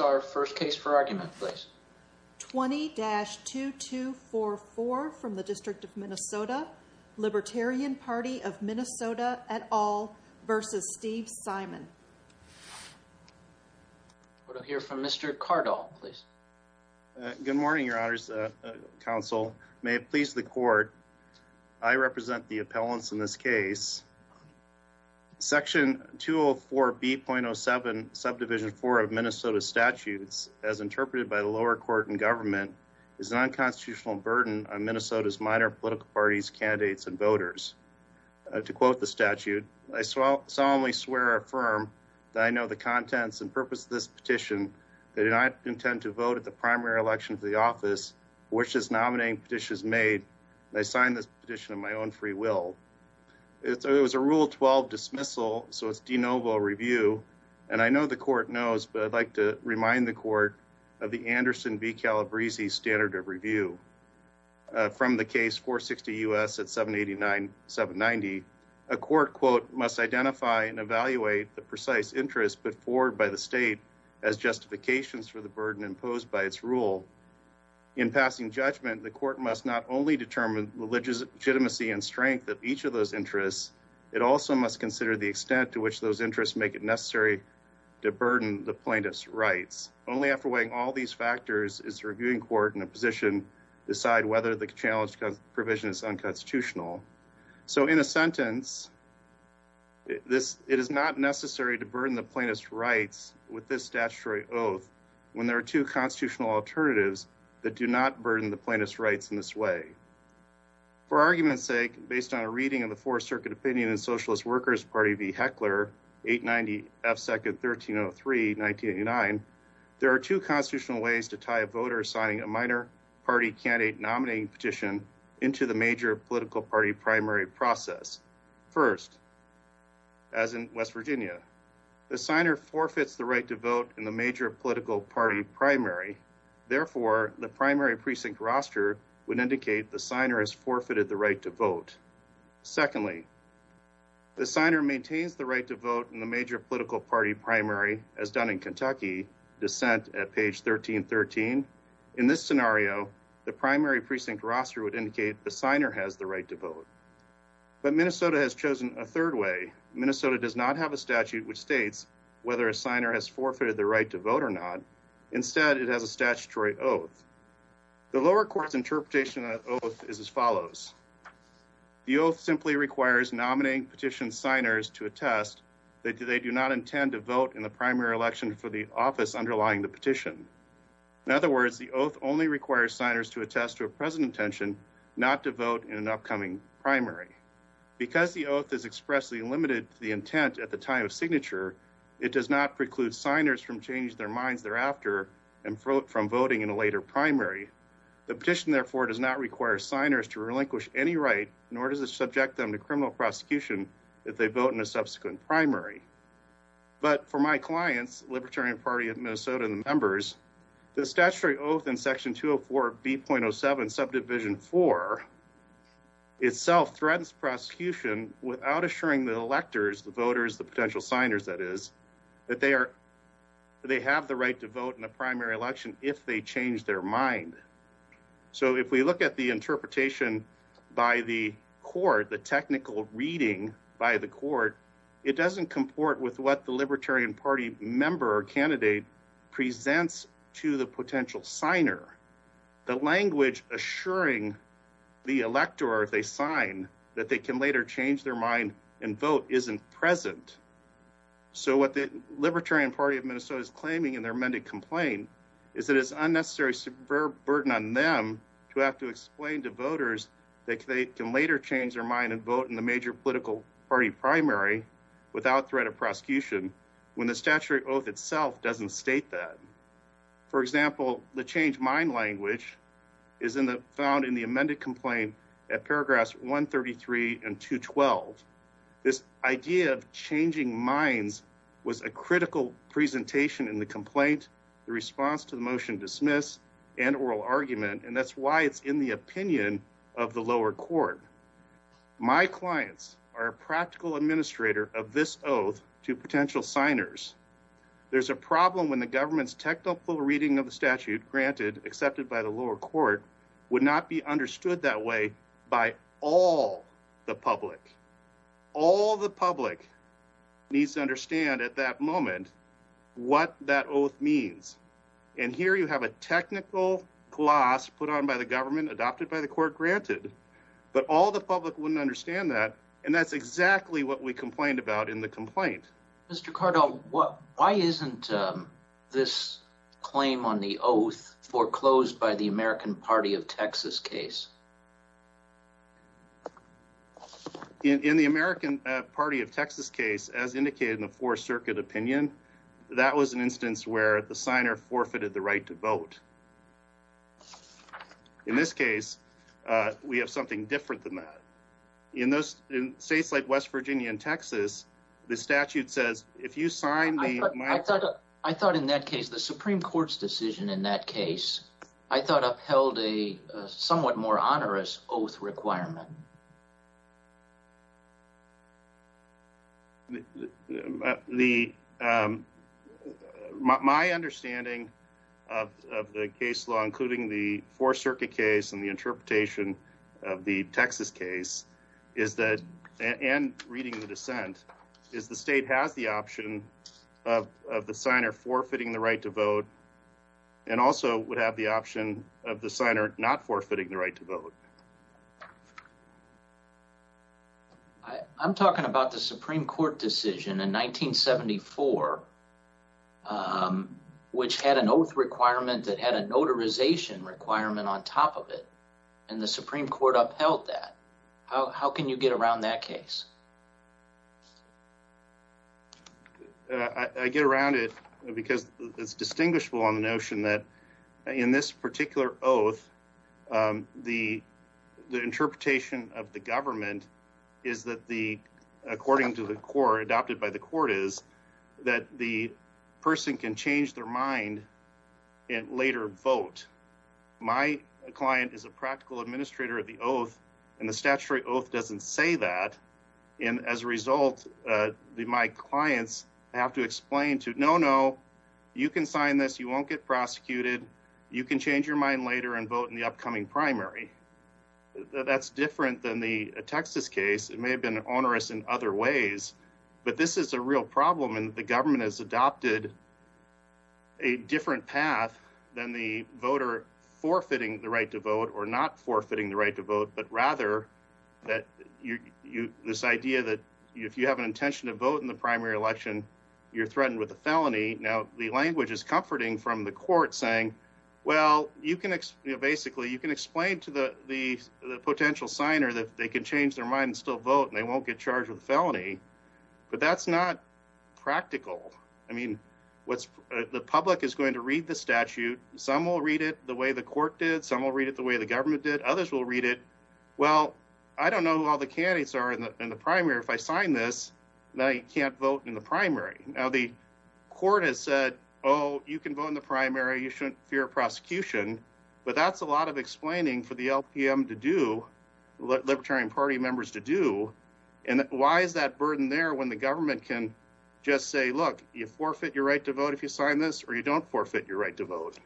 Our first case for argument, please. 20-2244 from the District of Minnesota, Libertarian Party of Minnesota et al versus Steve Simon. We'll hear from Mr. Cardall, please. Good morning, Your Honors Counsel. May it please the court, I represent the appellants in this case. Section 204B.07, Subdivision 4 of Minnesota Statutes, as interpreted by the lower court and government, is an unconstitutional burden on Minnesota's minor political parties, candidates, and voters. To quote the statute, I solemnly swear or affirm that I know the contents and purpose of this petition, that I do not intend to vote at the primary election of the office for which this nominating petition is made, and I sign this petition of my own free will. It was a Rule 12 dismissal, so it's de novo review, and I know the court knows, but I'd like to remind the court of the Anderson v. Calabresi standard of review. From the case 460 U.S. at 789-790, a court, quote, must identify and evaluate the precise interest put forward by the state as justifications for the burden imposed by its rule. In passing judgment, the court must not only determine the legitimacy and strength of each of those interests, it also must consider the extent to which those interests make it necessary to burden the plaintiff's rights. Only after weighing all these factors is the reviewing court in a position to decide whether the challenged provision is unconstitutional. So, in a sentence, it is not necessary to burden the plaintiff's rights with this statutory oath when there are two constitutional alternatives that do not burden the plaintiff's rights in this way. For argument's sake, based on a reading of the Fourth Circuit Opinion in Socialist Workers Party v. Heckler, 890 F. 2nd, 1303, 1989, there are two constitutional ways to tie a voter signing a minor party candidate nominating petition into the major political party primary process. First, as in West Virginia, the signer forfeits the right to vote in the major political party primary. Therefore, the primary precinct roster would indicate the signer has forfeited the right to vote. Secondly, the signer maintains the right to vote in the major political party primary, as done in Kentucky, dissent at page 1313. In this scenario, the primary precinct roster would indicate the signer has the right to vote. But Minnesota has chosen a third way. Minnesota does not have a statute which states whether a signer has forfeited the right to vote or not. Instead, it has a statutory oath. The lower court's interpretation of the oath is as follows. The oath simply requires nominating petition signers to attest that they do not intend to vote in the primary election for the office underlying the petition. In other words, the oath only requires signers to attest to a present intention not to vote in an upcoming primary. Because the oath is expressly limited to the intent at the time of signature, it does not preclude signers from changing their minds thereafter and vote from voting in a later primary. The petition, therefore, does not require signers to relinquish any right, nor does it subject them to criminal prosecution if they vote in a subsequent primary. But for my clients, Libertarian Party of Minnesota and the members, the statutory oath in section 204 of B.07 subdivision four itself threatens prosecution without assuring the electors, the voters, the potential signers that is, that they are, they have the right to vote in the primary election if they change their mind. So if we look at the interpretation by the court, the technical reading by the court, it doesn't comport with what the Libertarian Party member or candidate presents to the potential signer. The language assuring the elector if they sign that they can later change their mind and vote isn't present. So what the Libertarian Party of Minnesota is claiming in their amended complaint is that it's unnecessary, superb burden on them to have to explain to voters that they can later change their mind and vote in the major political party primary without threat of prosecution when the statutory oath itself doesn't state that. For example, the change mind language is in the found in the amended complaint at paragraphs 133 and 212. This idea of changing minds was a critical presentation in the complaint, the response to the motion dismiss and oral argument, and that's why it's in the opinion of the lower court. My clients are a practical administrator of this oath to potential signers. There's a problem when the government's technical reading of the statute granted accepted by the lower court would not be understood that way by all the public. All the public needs to understand at that moment what that oath means. And here you have a technical class put on by the government adopted by the court granted, but all the public wouldn't understand that. And that's exactly what we complained about in the complaint. Mr Cardo, why isn't this claim on the oath foreclosed by the American Party of Texas case? In the American Party of Texas case, as indicated in the Fourth Circuit opinion, that was an instance where the signer forfeited the right to vote. In this case, we have something different than that. In those states like West Virginia and Florida, I thought in that case, the Supreme Court's decision in that case, I thought upheld a somewhat more onerous oath requirement. My understanding of the case law, including the Fourth Circuit case and the interpretation of the Texas case, and reading the dissent, is the state has the option of the signer forfeiting the right to vote and also would have the option of the signer not forfeiting the right to vote. I'm talking about the Supreme Court decision in 1974, which had an oath requirement that had a notarization requirement on top of it, and the Supreme Court upheld that. How can you get around that case? I get around it because it's distinguishable on the notion that in this particular oath, the interpretation of the government is that the, according to the court, adopted by the court is, that the person can change their mind and later vote. My client is a practical administrator of the oath, and the statutory oath doesn't say that, and as a result, my clients have to explain to, no, no, you can sign this. You won't get prosecuted. You can change your mind later and vote in the upcoming primary. That's different than the Texas case. It may have been onerous in other ways, but this is a real problem, and the government has adopted a different path than the voter forfeiting the right to vote or not forfeiting the right to vote, but rather that you, this idea that if you have an intention to vote in the primary election, you're threatened with a felony. Now, the language is comforting from the court saying, well, you can, basically, you can explain to the potential signer that they can change their mind, but that's not practical. I mean, the public is going to read the statute. Some will read it the way the court did. Some will read it the way the government did. Others will read it, well, I don't know who all the candidates are in the primary. If I sign this, then I can't vote in the primary. Now, the court has said, oh, you can vote in the primary. You shouldn't fear prosecution, but that's a lot of explaining for the LPM to do, Libertarian party members to do, and why is that burden there when the government can just say, look, you forfeit your right to vote if you sign this, or you don't forfeit your right to vote.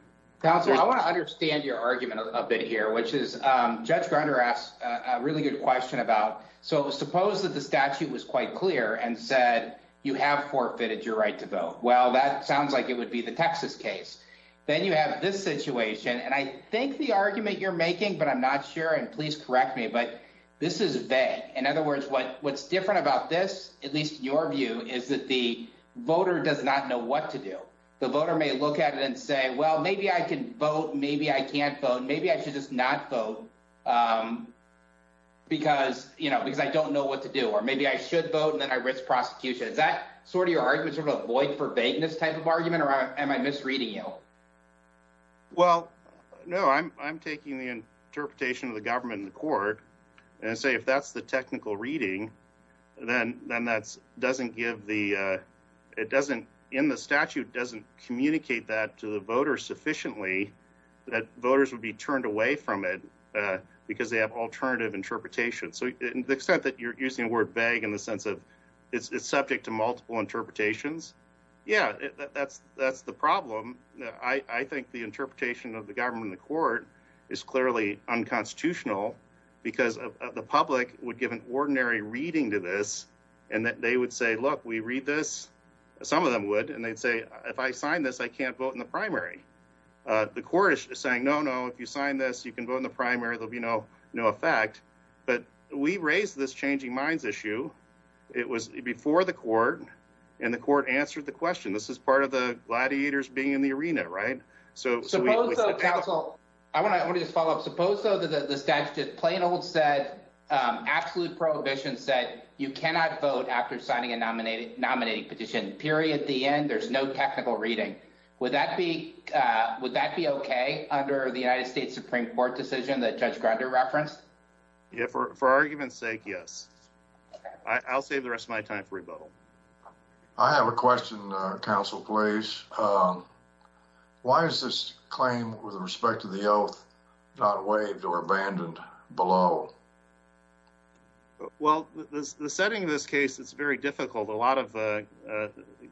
Counselor, I want to understand your argument a bit here, which is Judge Grunder asked a really good question about, so suppose that the statute was quite clear and said, you have forfeited your right to vote. Well, that sounds like it would be the Texas case. Then you have this situation, and I think the argument you're making, but I'm not sure, and please correct me, but this is vague. In other words, what's different about this, at least your view, is that the voter does not know what to do. The voter may look at it and say, well, maybe I can vote, maybe I can't vote, maybe I should just not vote because I don't know what to do, or maybe I should vote and then I risk prosecution. Is that sort of your argument, sort of a void, verbatim type of argument, or am I misreading you? Well, no, I'm taking the court and say, if that's the technical reading, then that doesn't give the, it doesn't, in the statute, doesn't communicate that to the voter sufficiently that voters would be turned away from it because they have alternative interpretation. So the extent that you're using the word vague in the sense of it's subject to multiple interpretations, yeah, that's the problem. I think the interpretation of the government and the court is clearly unconstitutional because the public would give an ordinary reading to this and that they would say, look, we read this, some of them would, and they'd say, if I sign this, I can't vote in the primary. The court is saying, no, no, if you sign this, you can vote in the primary, there'll be no effect, but we raised this changing minds issue. It was before the court and the court answered the question. This is part of the gladiators being in the arena, right? I want to just follow up. Suppose though that the statute plain old said, absolute prohibition said, you cannot vote after signing a nominating petition, period, the end, there's no technical reading. Would that be okay under the United States Supreme Court decision that Judge Grunder referenced? Yeah, for argument's sake, yes. I'll save the rest of my time for rebuttal. I have a question, counsel, please. Why is this claim with respect to the oath not waived or abandoned below? Well, the setting of this case, it's very difficult. A lot of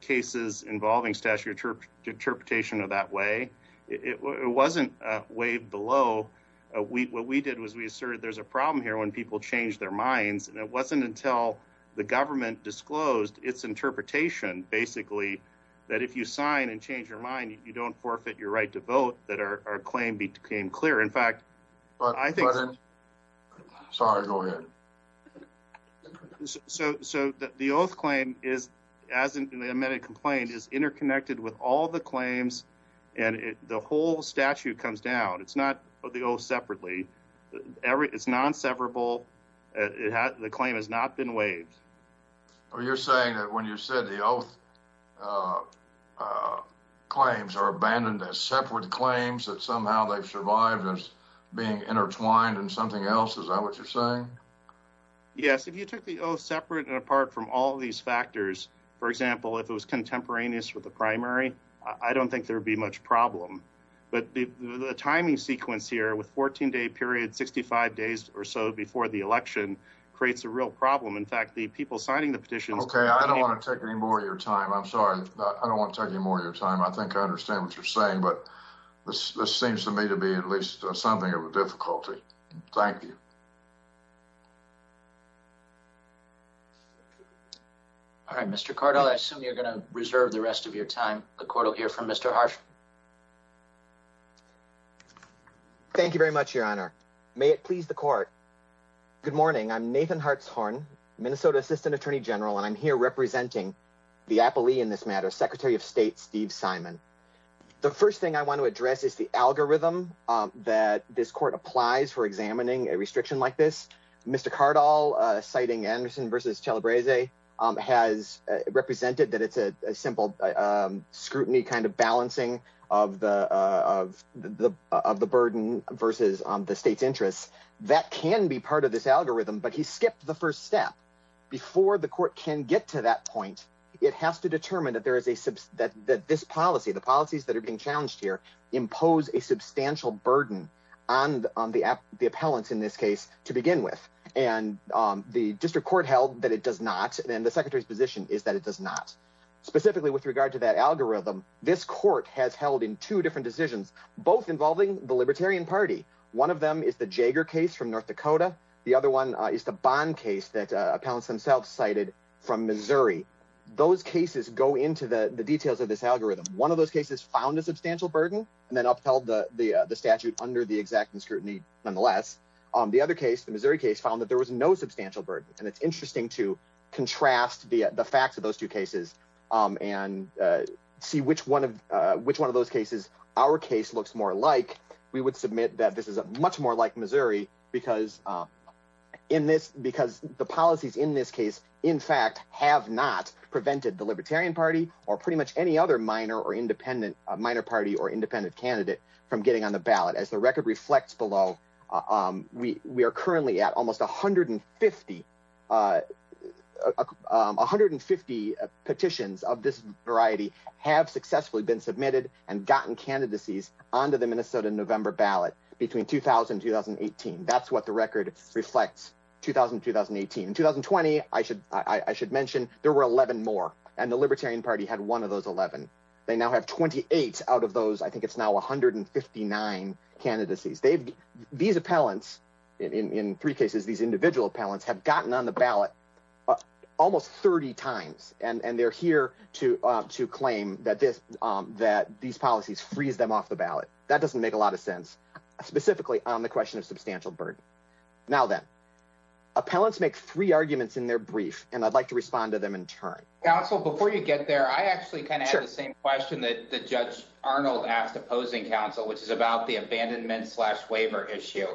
cases involving statutory interpretation of that way, it wasn't waived below. What we did was we asserted there's a problem here when people change their minds, and it wasn't until the interpretation, basically, that if you sign and change your mind, you don't forfeit your right to vote that our claim became clear. In fact, I think... Sorry, go ahead. So the oath claim, as in the amended complaint, is interconnected with all the claims, and the whole statute comes down. It's not the oath separately. It's non-severable. It has... The claim has not been waived. Oh, you're saying that when you said the oath claims are abandoned as separate claims, that somehow they've survived as being intertwined in something else? Is that what you're saying? Yes. If you took the oath separate and apart from all these factors, for example, if it was contemporaneous with the primary, I don't think there'd be much problem. But the timing sequence here with 14-day period, 65 days or so before the election, creates a real problem. In fact, the people signing the petitions... Okay, I don't want to take any more of your time. I'm sorry. I don't want to take any more of your time. I think I understand what you're saying, but this seems to me to be at least something of a difficulty. Thank you. All right, Mr. Cardle, I assume you're going to reserve the rest of your time. The court will hear from Mr. Harsh. Thank you very much, Your Honor. May it please the court. Good morning. I'm Nathan Hartshorn, Minnesota Assistant Attorney General, and I'm here representing the appellee in this matter, Secretary of State Steve Simon. The first thing I want to address is the algorithm that this court applies for examining a restriction like this. Mr. Cardle, citing Anderson versus Chalabrese, has represented that it's a simple scrutiny balancing of the burden versus the state's interests. That can be part of this algorithm, but he skipped the first step. Before the court can get to that point, it has to determine that this policy, the policies that are being challenged here, impose a substantial burden on the appellants in this case to begin with. The district court held that it does not, and the Secretary's position is that it does not. Specifically, with regard to that algorithm, this court has held in two different decisions, both involving the Libertarian Party. One of them is the Jaeger case from North Dakota. The other one is the Bond case that appellants themselves cited from Missouri. Those cases go into the details of this algorithm. One of those cases found a substantial burden and then upheld the statute under the exacting scrutiny nonetheless. The other case, the Missouri case, found that there was no substantial burden, and it's interesting to contrast the facts of those two cases and see which one of those cases our case looks more like. We would submit that this is much more like Missouri because the policies in this case, in fact, have not prevented the Libertarian Party or pretty much any other minor party or independent candidate from getting on petitions of this variety have successfully been submitted and gotten candidacies onto the Minnesota November ballot between 2000 and 2018. That's what the record reflects, 2000 and 2018. In 2020, I should mention there were 11 more, and the Libertarian Party had one of those 11. They now have 28 out of those. I think it's now 159 candidacies. These appellants, in three cases, these individual appellants have gotten on the ballot almost 30 times, and they're here to claim that these policies freeze them off the ballot. That doesn't make a lot of sense, specifically on the question of substantial burden. Now then, appellants make three arguments in their brief, and I'd like to respond to them in turn. Counsel, before you get there, I actually kind of have the same question that Judge Arnold asked opposing counsel, which is about the abandonment waiver issue.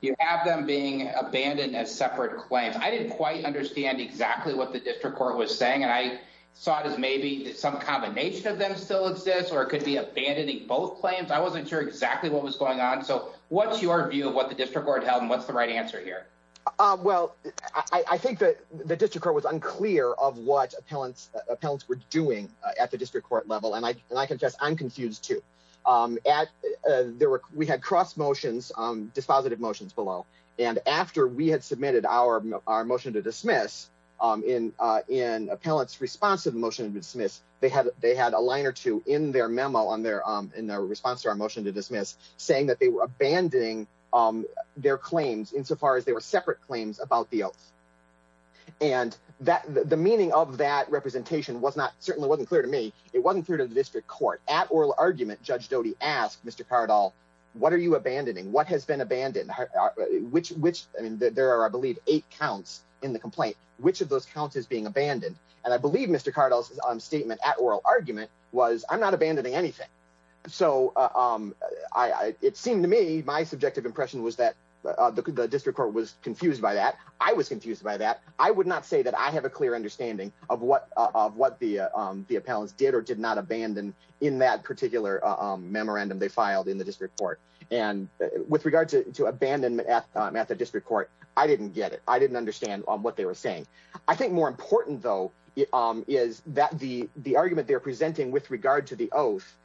You have them being abandoned as separate claims. I didn't quite understand exactly what the district court was saying, and I saw it as maybe some combination of them still exist, or it could be abandoning both claims. I wasn't sure exactly what was going on, so what's your view of what the district court held, and what's the right answer here? Well, I think that the district court was unclear of what appellants were doing at the district court level, and I confess I'm confused too. We had cross motions, dispositive motions below, and after we had submitted our motion to dismiss, in appellants' response to the motion to dismiss, they had a line or two in their memo, in their response to our motion to dismiss, saying that they were abandoning their claims insofar as they were separate claims about the oath. And the meaning of that representation certainly wasn't clear to me. It wasn't clear to the district court. At oral argument, Judge Doty asked Mr. Cardall, what are you abandoning? What has been abandoned? There are, I believe, eight counts in the complaint. Which of those counts is being abandoned? And I believe Mr. Cardall's statement at oral argument was, I'm not abandoning anything. So it seemed to me, my subjective impression was that the district court was confused by that. I was confused by that. I would not say that I have a clear understanding of what the appellants did or did not abandon in that particular memorandum they filed in the district court. And with regard to abandonment at the district court, I didn't get it. I didn't understand what they were saying. I think more important though, is that the argument they're presenting with regard to the oath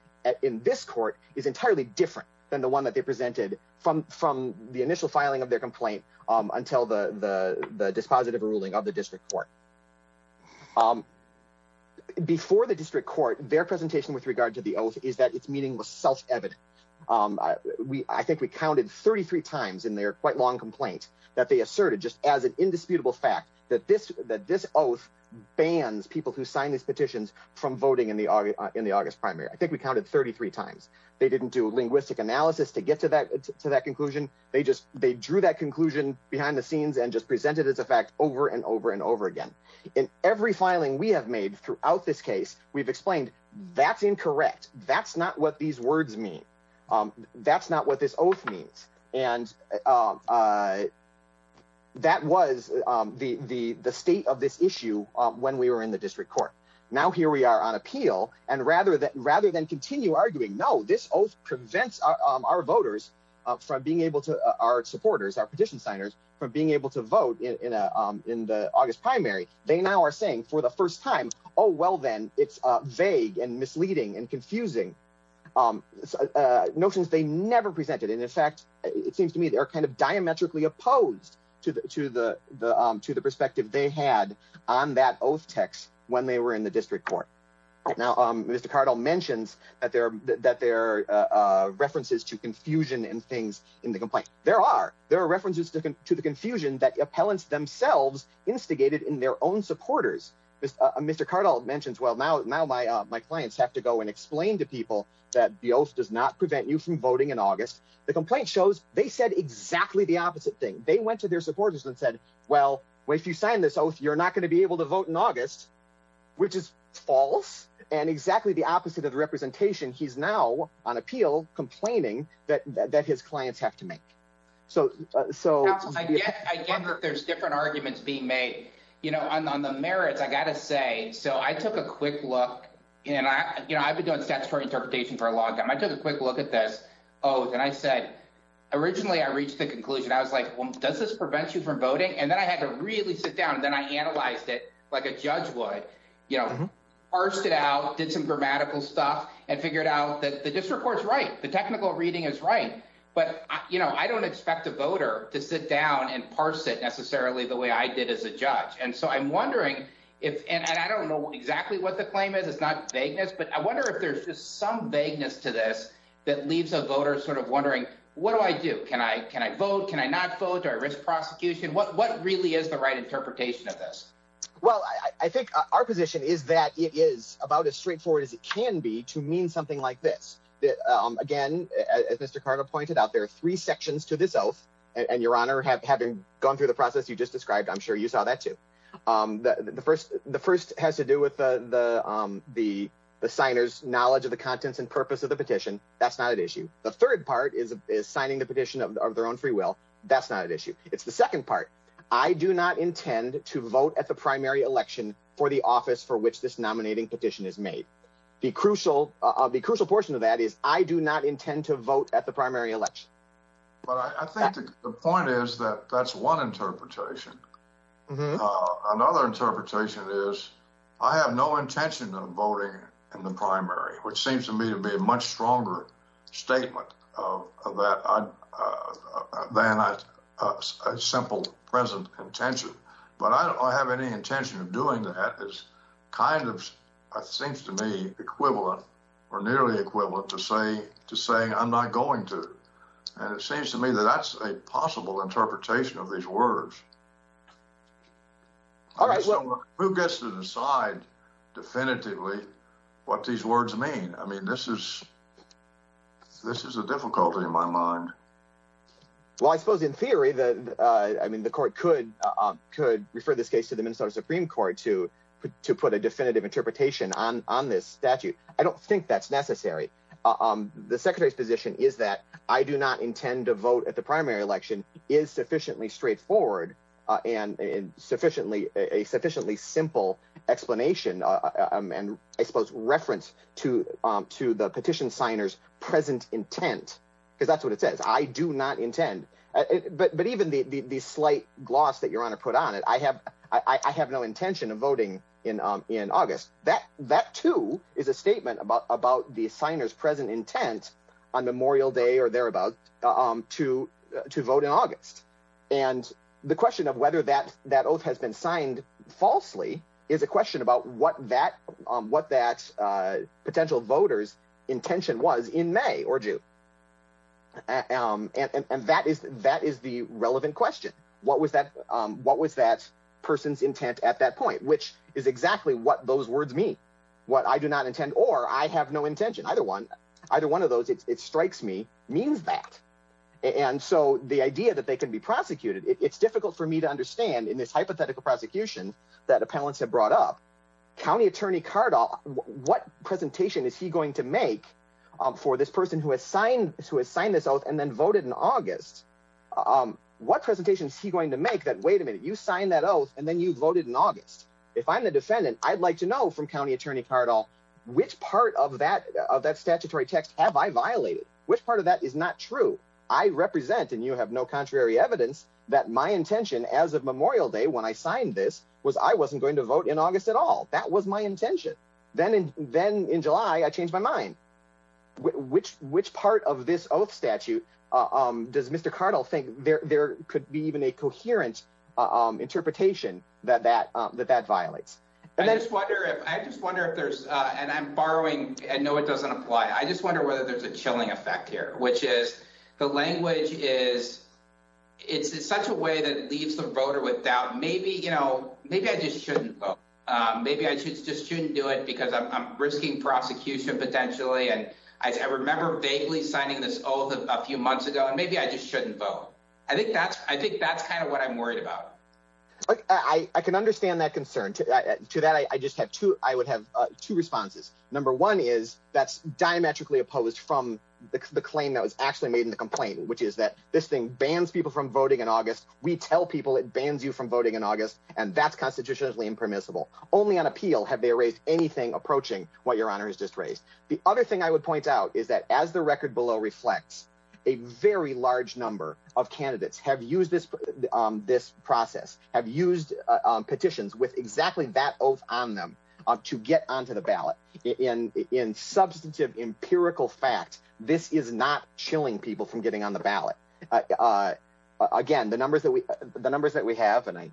in this court is entirely different than the one that they presented from the initial filing of their complaint until the dispositive ruling of the district court. Before the district court, their presentation with regard to the oath is that it's meaningless self-evident. I think we counted 33 times in their quite long complaint that they asserted just as an indisputable fact that this oath bans people who sign these petitions from voting in the August primary. I think we counted 33 times. They didn't do linguistic analysis to get to that conclusion. They drew that conclusion behind the scenes and just presented as a fact over and over and over again. In every filing we have made throughout this case, we've explained that's incorrect. That's not what these words mean. That's not what this oath means. And that was the state of this issue when we were in the district court. Now here we are on appeal and rather than continue arguing, no, this oath prevents our voters from being able to, our supporters, our petition signers, from being able to vote in the August primary. They now are saying for the first time, oh well then, it's vague and misleading and confusing notions they never presented. And in fact, it seems to me they're kind of diametrically opposed to the perspective they had on that oath text when they were in the district court. Now Mr. Cardle mentions that there are references to confusion and things in the complaint. There are. There are references to the confusion that appellants themselves instigated in their own supporters. Mr. Cardle mentions, well now my clients have to go and explain to people that the oath does not prevent you from voting in August. The complaint shows they said exactly the opposite thing. They went to their supporters and said, well if you sign this oath, you're not going to be able to vote in August, which is false and exactly the opposite of the representation. He's now on appeal complaining that his clients have to make. I get that there's different arguments being made. You know, on the merits, I got to say, so I took a quick look and I've been doing statutory interpretation for a long time. I took a quick look at this oath and I said, originally I reached the conclusion. I was like, well does this prevent you from voting? And then I had to really sit down and then I analyzed it like a judge would. You know, parsed it out, did some grammatical stuff and figured out that the district court's right. The technical reading is right. But you know, I don't expect a voter to sit down and parse it necessarily the way I did as a judge. And so I'm wondering if, and I don't know exactly what the claim is. It's not vagueness, but I wonder if there's just some vagueness to this that leaves a voter sort of wondering, what do I do? Can I vote? Can I not vote? Do I risk prosecution? What really is the right interpretation of this? Well, I think our position is that it is about as straightforward as it can be to mean something like this. Again, as Mr. Carter pointed out, there are three sections to this oath. And your honor, having gone through the process you just described, I'm sure you saw that too. The first has to do with the signer's knowledge of the third part is signing the petition of their own free will. That's not an issue. It's the second part. I do not intend to vote at the primary election for the office for which this nominating petition is made. The crucial portion of that is I do not intend to vote at the primary election. But I think the point is that that's one interpretation. Another interpretation is I have no intention of voting in the primary, which seems to me to be a much stronger statement of that than a simple present intention. But I don't have any intention of doing that. It seems to me equivalent or nearly equivalent to saying I'm not going to. And it seems to me that that's a possible interpretation of these words. All right. Well, who gets to decide definitively what these words mean? I mean, this is this is a difficulty in my mind. Well, I suppose in theory, the I mean, the court could refer this case to the Minnesota Supreme Court to put a definitive interpretation on this statute. I don't think that's necessary. The secretary's position is that I do not intend to vote at the and sufficiently a sufficiently simple explanation and I suppose reference to the petition signers present intent, because that's what it says. I do not intend. But even the slight gloss that you're going to put on it, I have I have no intention of voting in in August. That that, too, is a statement about about the signers present intent on Memorial Day or thereabouts to to vote in August. And the question of whether that that oath has been signed falsely is a question about what that what that potential voters intention was in May or June. And that is that is the relevant question. What was that? What was that person's intent at that point? Which is exactly what those words mean. What I do not intend or I have no intention, either one, either one of those. It strikes me means that. And so the idea that they can be prosecuted, it's difficult for me to understand in this hypothetical prosecution that appellants have brought up. County Attorney Cardall, what presentation is he going to make for this person who assigned to assign this oath and then voted in August? What presentation is he going to make that? Wait a minute. You signed that oath and then you voted in August. If I'm the defendant, I'd like to know from County Attorney Cardall, which part of that of that statutory text have I violated? Which part of that is not true? I represent and you have no contrary evidence that my intention as of Memorial Day when I signed this was I wasn't going to vote in August at all. That was my intention. Then and then in July, I changed my mind. Which which part of this oath statute does Mr. Cardall think there could be even a coherent interpretation that that that that violates? And I just wonder if I just wonder if there's and I'm borrowing. And no, it doesn't apply. I just wonder whether there's a chilling effect here, which is the language is it's such a way that leaves the voter without maybe, you know, maybe I just shouldn't vote. Maybe I just shouldn't do it because I'm risking prosecution potentially. And I remember vaguely signing this oath a few months ago. And maybe I just shouldn't vote. I think that's I can understand that concern to that. I just have to I would have two responses. Number one is that's diametrically opposed from the claim that was actually made in the complaint, which is that this thing bans people from voting in August. We tell people it bans you from voting in August, and that's constitutionally impermissible. Only on appeal have they raised anything approaching what your honor has just raised. The other thing I would point out is that as the record below reflects, a very large number of candidates have used this process, have used petitions with exactly that oath on them to get onto the ballot. In substantive empirical fact, this is not chilling people from getting on the ballot. Again, the numbers that we have, and I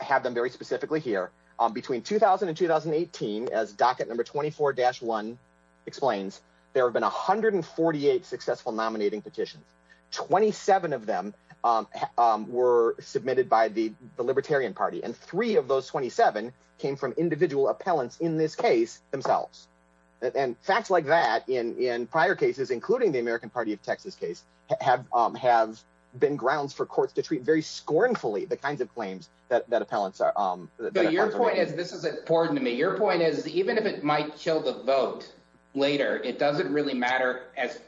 have them very specifically here, between 2000 and 2018, as docket number 24-1 explains, there have been 148 successful nominating petitions. 27 of them were submitted by the Libertarian Party, and three of those 27 came from individual appellants in this case themselves. And facts like that in prior cases, including the American Party of Texas case, have been grounds for courts to treat very scornfully the kinds of claims that appellants are. But your point is, this is important to me, your point is even if it might kill the vote later, it doesn't really matter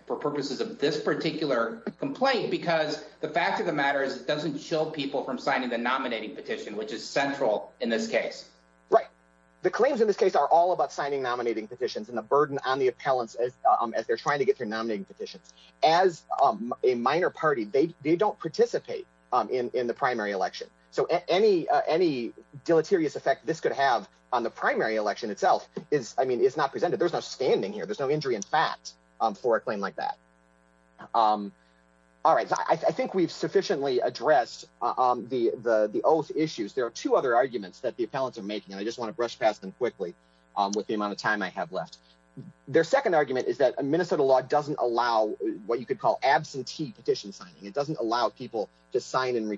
for purposes of this particular complaint, because the fact of the matter is it doesn't chill people from signing the nominating petition, which is central in this case. Right. The claims in this case are all about signing nominating petitions and the burden on the appellants as they're trying to get through nominating petitions. As a minor party, they don't participate in the primary election. So any deleterious effect this could have on the primary election itself is not presented. There's no standing here. There's no injury in fact for a claim like that. All right. I think we've sufficiently addressed the oath issues. There are two other arguments that the appellants are making, and I just want to brush past them quickly with the amount of time I have left. Their second argument is that a Minnesota law doesn't allow what you could call absentee petition signing. It doesn't allow people to sign and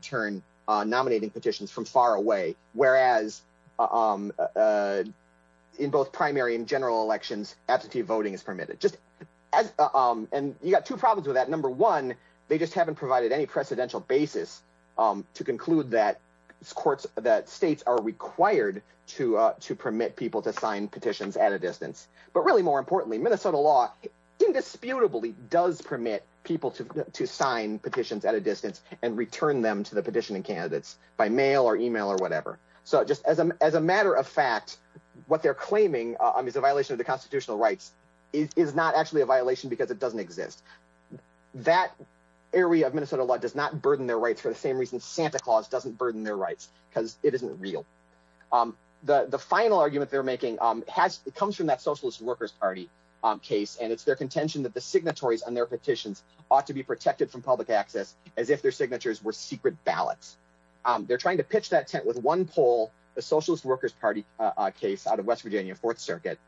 in both primary and general elections, absentee voting is permitted. You got two problems with that. Number one, they just haven't provided any precedential basis to conclude that states are required to permit people to sign petitions at a distance. But really, more importantly, Minnesota law indisputably does permit people to sign petitions at a distance and return them to the petitioning candidates by mail or email or whatever. So just as a matter of fact, what they're claiming is a violation of the constitutional rights is not actually a violation because it doesn't exist. That area of Minnesota law does not burden their rights for the same reason Santa Claus doesn't burden their rights because it isn't real. The final argument they're making comes from that Socialist Workers Party case, and it's their contention that the signatories on their petitions ought to be protected from public access as if their signatures were secret ballots. They're trying to pitch that tent with one poll, the Socialist Workers Party case out of West Virginia Fourth Circuit.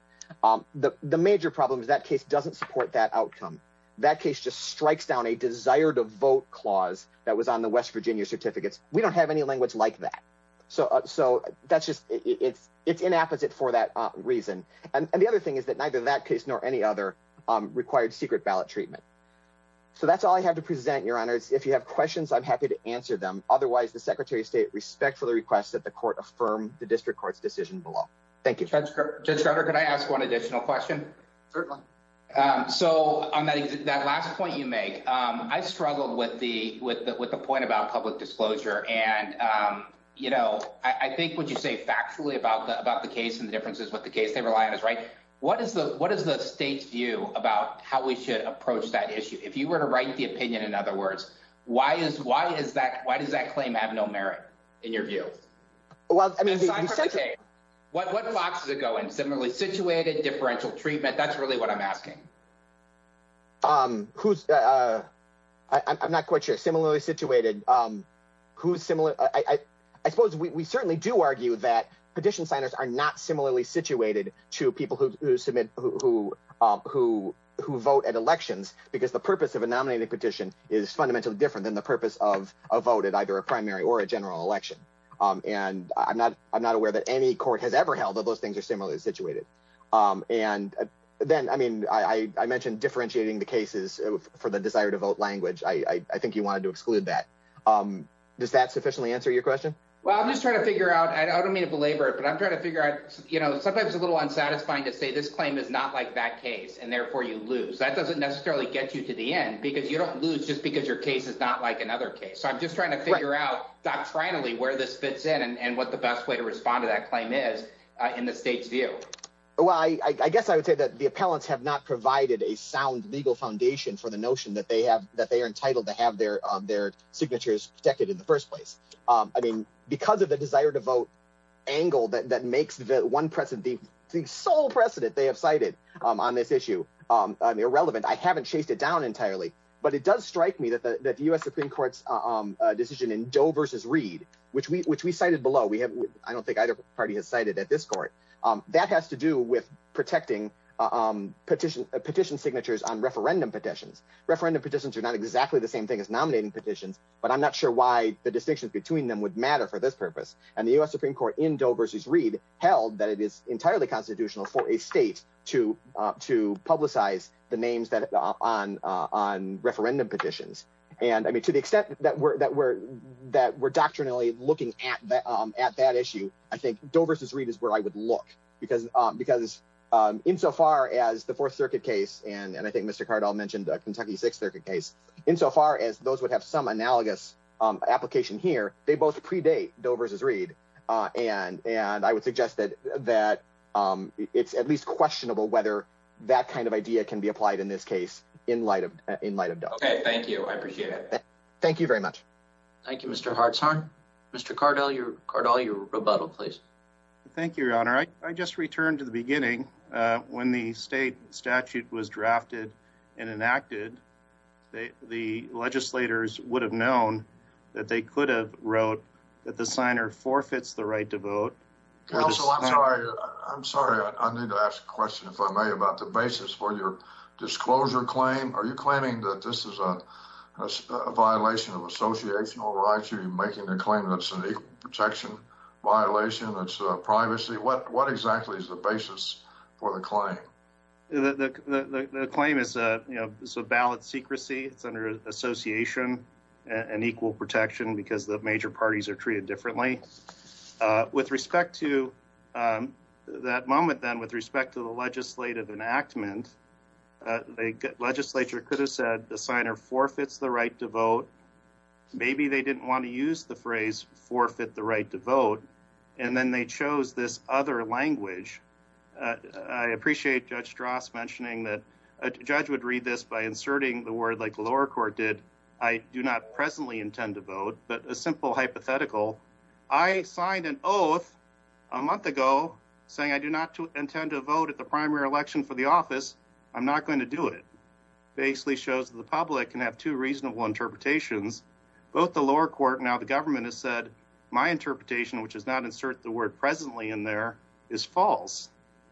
The major problem is that case doesn't support that outcome. That case just strikes down a desire to vote clause that was on the West Virginia certificates. We don't have any language like that. So that's just, it's inapposite for that reason. And the other thing is that neither that case nor any other required secret ballot treatment. So that's all I have to present, Your Honor. If you have questions, I'm happy to answer them. Otherwise, the Secretary of State respectfully requests that the court affirm the district court's decision below. Thank you. Judge Carter, could I ask one additional question? Certainly. So on that last point you make, I struggled with the point about public disclosure. And, you know, I think what you say factually about the case and the differences with the case they rely on is right. What is the state's view about how we should approach that issue? If you were to write the opinion, in other words, why does that claim have no merit in your view? What boxes it go in? Similarly situated, differential treatment. That's really what I'm asking. I'm not quite sure. Similarly situated. I suppose we certainly do to people who submit, who vote at elections, because the purpose of a nominating petition is fundamentally different than the purpose of a vote at either a primary or a general election. And I'm not aware that any court has ever held that those things are similarly situated. And then, I mean, I mentioned differentiating the cases for the desire to vote language. I think you wanted to exclude that. Does that sufficiently answer your question? Well, I'm just trying to a little unsatisfying to say this claim is not like that case and therefore you lose. That doesn't necessarily get you to the end because you don't lose just because your case is not like another case. So I'm just trying to figure out doctrinally where this fits in and what the best way to respond to that claim is in the state's view. Well, I guess I would say that the appellants have not provided a sound legal foundation for the notion that they are entitled to have their signatures protected in the first place. I mean, because of the desire to vote angle that makes the one precedent, the sole precedent they have cited on this issue irrelevant. I haven't chased it down entirely, but it does strike me that the U.S. Supreme Court's decision in Doe versus Reed, which we cited below, I don't think either party has cited at this court, that has to do with protecting petition signatures on referendum petitions. Referendum petitions are not exactly the same thing as nominating petitions, but I'm not sure why the distinctions between them would matter for this purpose. And the U.S. Supreme Court in Doe versus Reed held that it is entirely constitutional for a state to publicize the names that are on referendum petitions. And I mean, to the extent that we're doctrinally looking at that issue, I think Doe versus Reed is where I would look because insofar as the Fourth Circuit case, and I think Mr. Cardall mentioned the Kentucky Sixth Circuit case, insofar as those would have some analogous application here, they both predate Doe versus Reed. And I would suggest that it's at least questionable whether that kind of idea can be applied in this case in light of Doe. Okay, thank you. I appreciate it. Thank you very much. Thank you, Mr. Hartshorn. Mr. Cardall, your rebuttal, please. Thank you, Your Honor. I just returned to the beginning when the state statute was drafted and enacted, the legislators would have known that they could have wrote that the signer forfeits the right to vote. Counsel, I'm sorry. I'm sorry. I need to ask a question, if I may, about the basis for your disclosure claim. Are you claiming that this is a violation of associational rights? Are you making the claim that it's an equal protection violation, that it's privacy? What exactly is the valid secrecy? It's under association and equal protection because the major parties are treated differently. With respect to that moment then, with respect to the legislative enactment, the legislature could have said the signer forfeits the right to vote. Maybe they didn't want to use the phrase forfeit the right to vote. And then they chose this other language. I appreciate Judge Strauss mentioning that a judge would read this by inserting the word, like the lower court did, I do not presently intend to vote, but a simple hypothetical. I signed an oath a month ago saying I do not intend to vote at the primary election for the office. I'm not going to do it. It basically shows that the public can have two reasonable interpretations. Both the lower court, now the government, has said my interpretation, which is not insert the word presently in there, is false.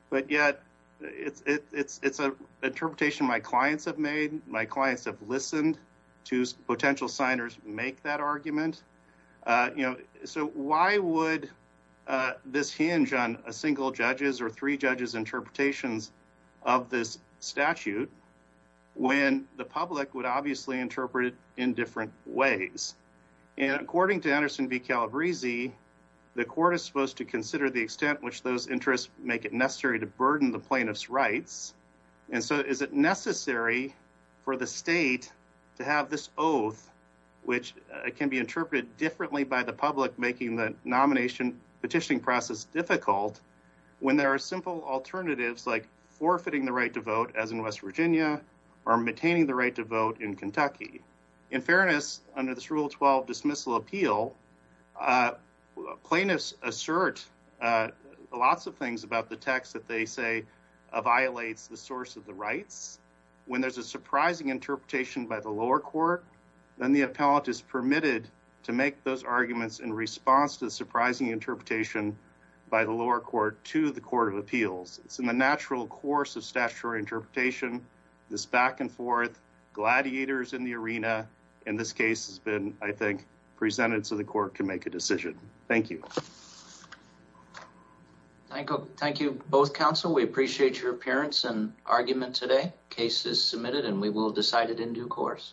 But yet it's an interpretation my clients have made. My clients have listened to potential signers make that argument. So why would this hinge on a single judge's or three judges' interpretations of this statute when the public would obviously interpret it in different ways? And according to Anderson v. Calabrese, the court is supposed to consider the extent which those interests make it necessary to burden the plaintiff's rights. And so is it necessary for the state to have this oath, which can be interpreted differently by the public, making the nomination petitioning process difficult, when there are simple alternatives like forfeiting the right to vote, as in West Virginia, or maintaining the right to vote in Kentucky? In fairness, under this Rule 12 dismissal appeal, plaintiffs assert lots of things about the text that they say violates the source of the rights. When there's a surprising interpretation by the lower court, then the appellant is permitted to make those arguments in response to the surprising interpretation by the lower court to the Court of Appeals. It's in the natural course of statutory interpretation, this back and forth, gladiators in the arena. And this case has been, I think, presented so the court can make a decision. Thank you. Thank you both, counsel. We appreciate your appearance and argument today. Case is submitted and we will decide it in due course.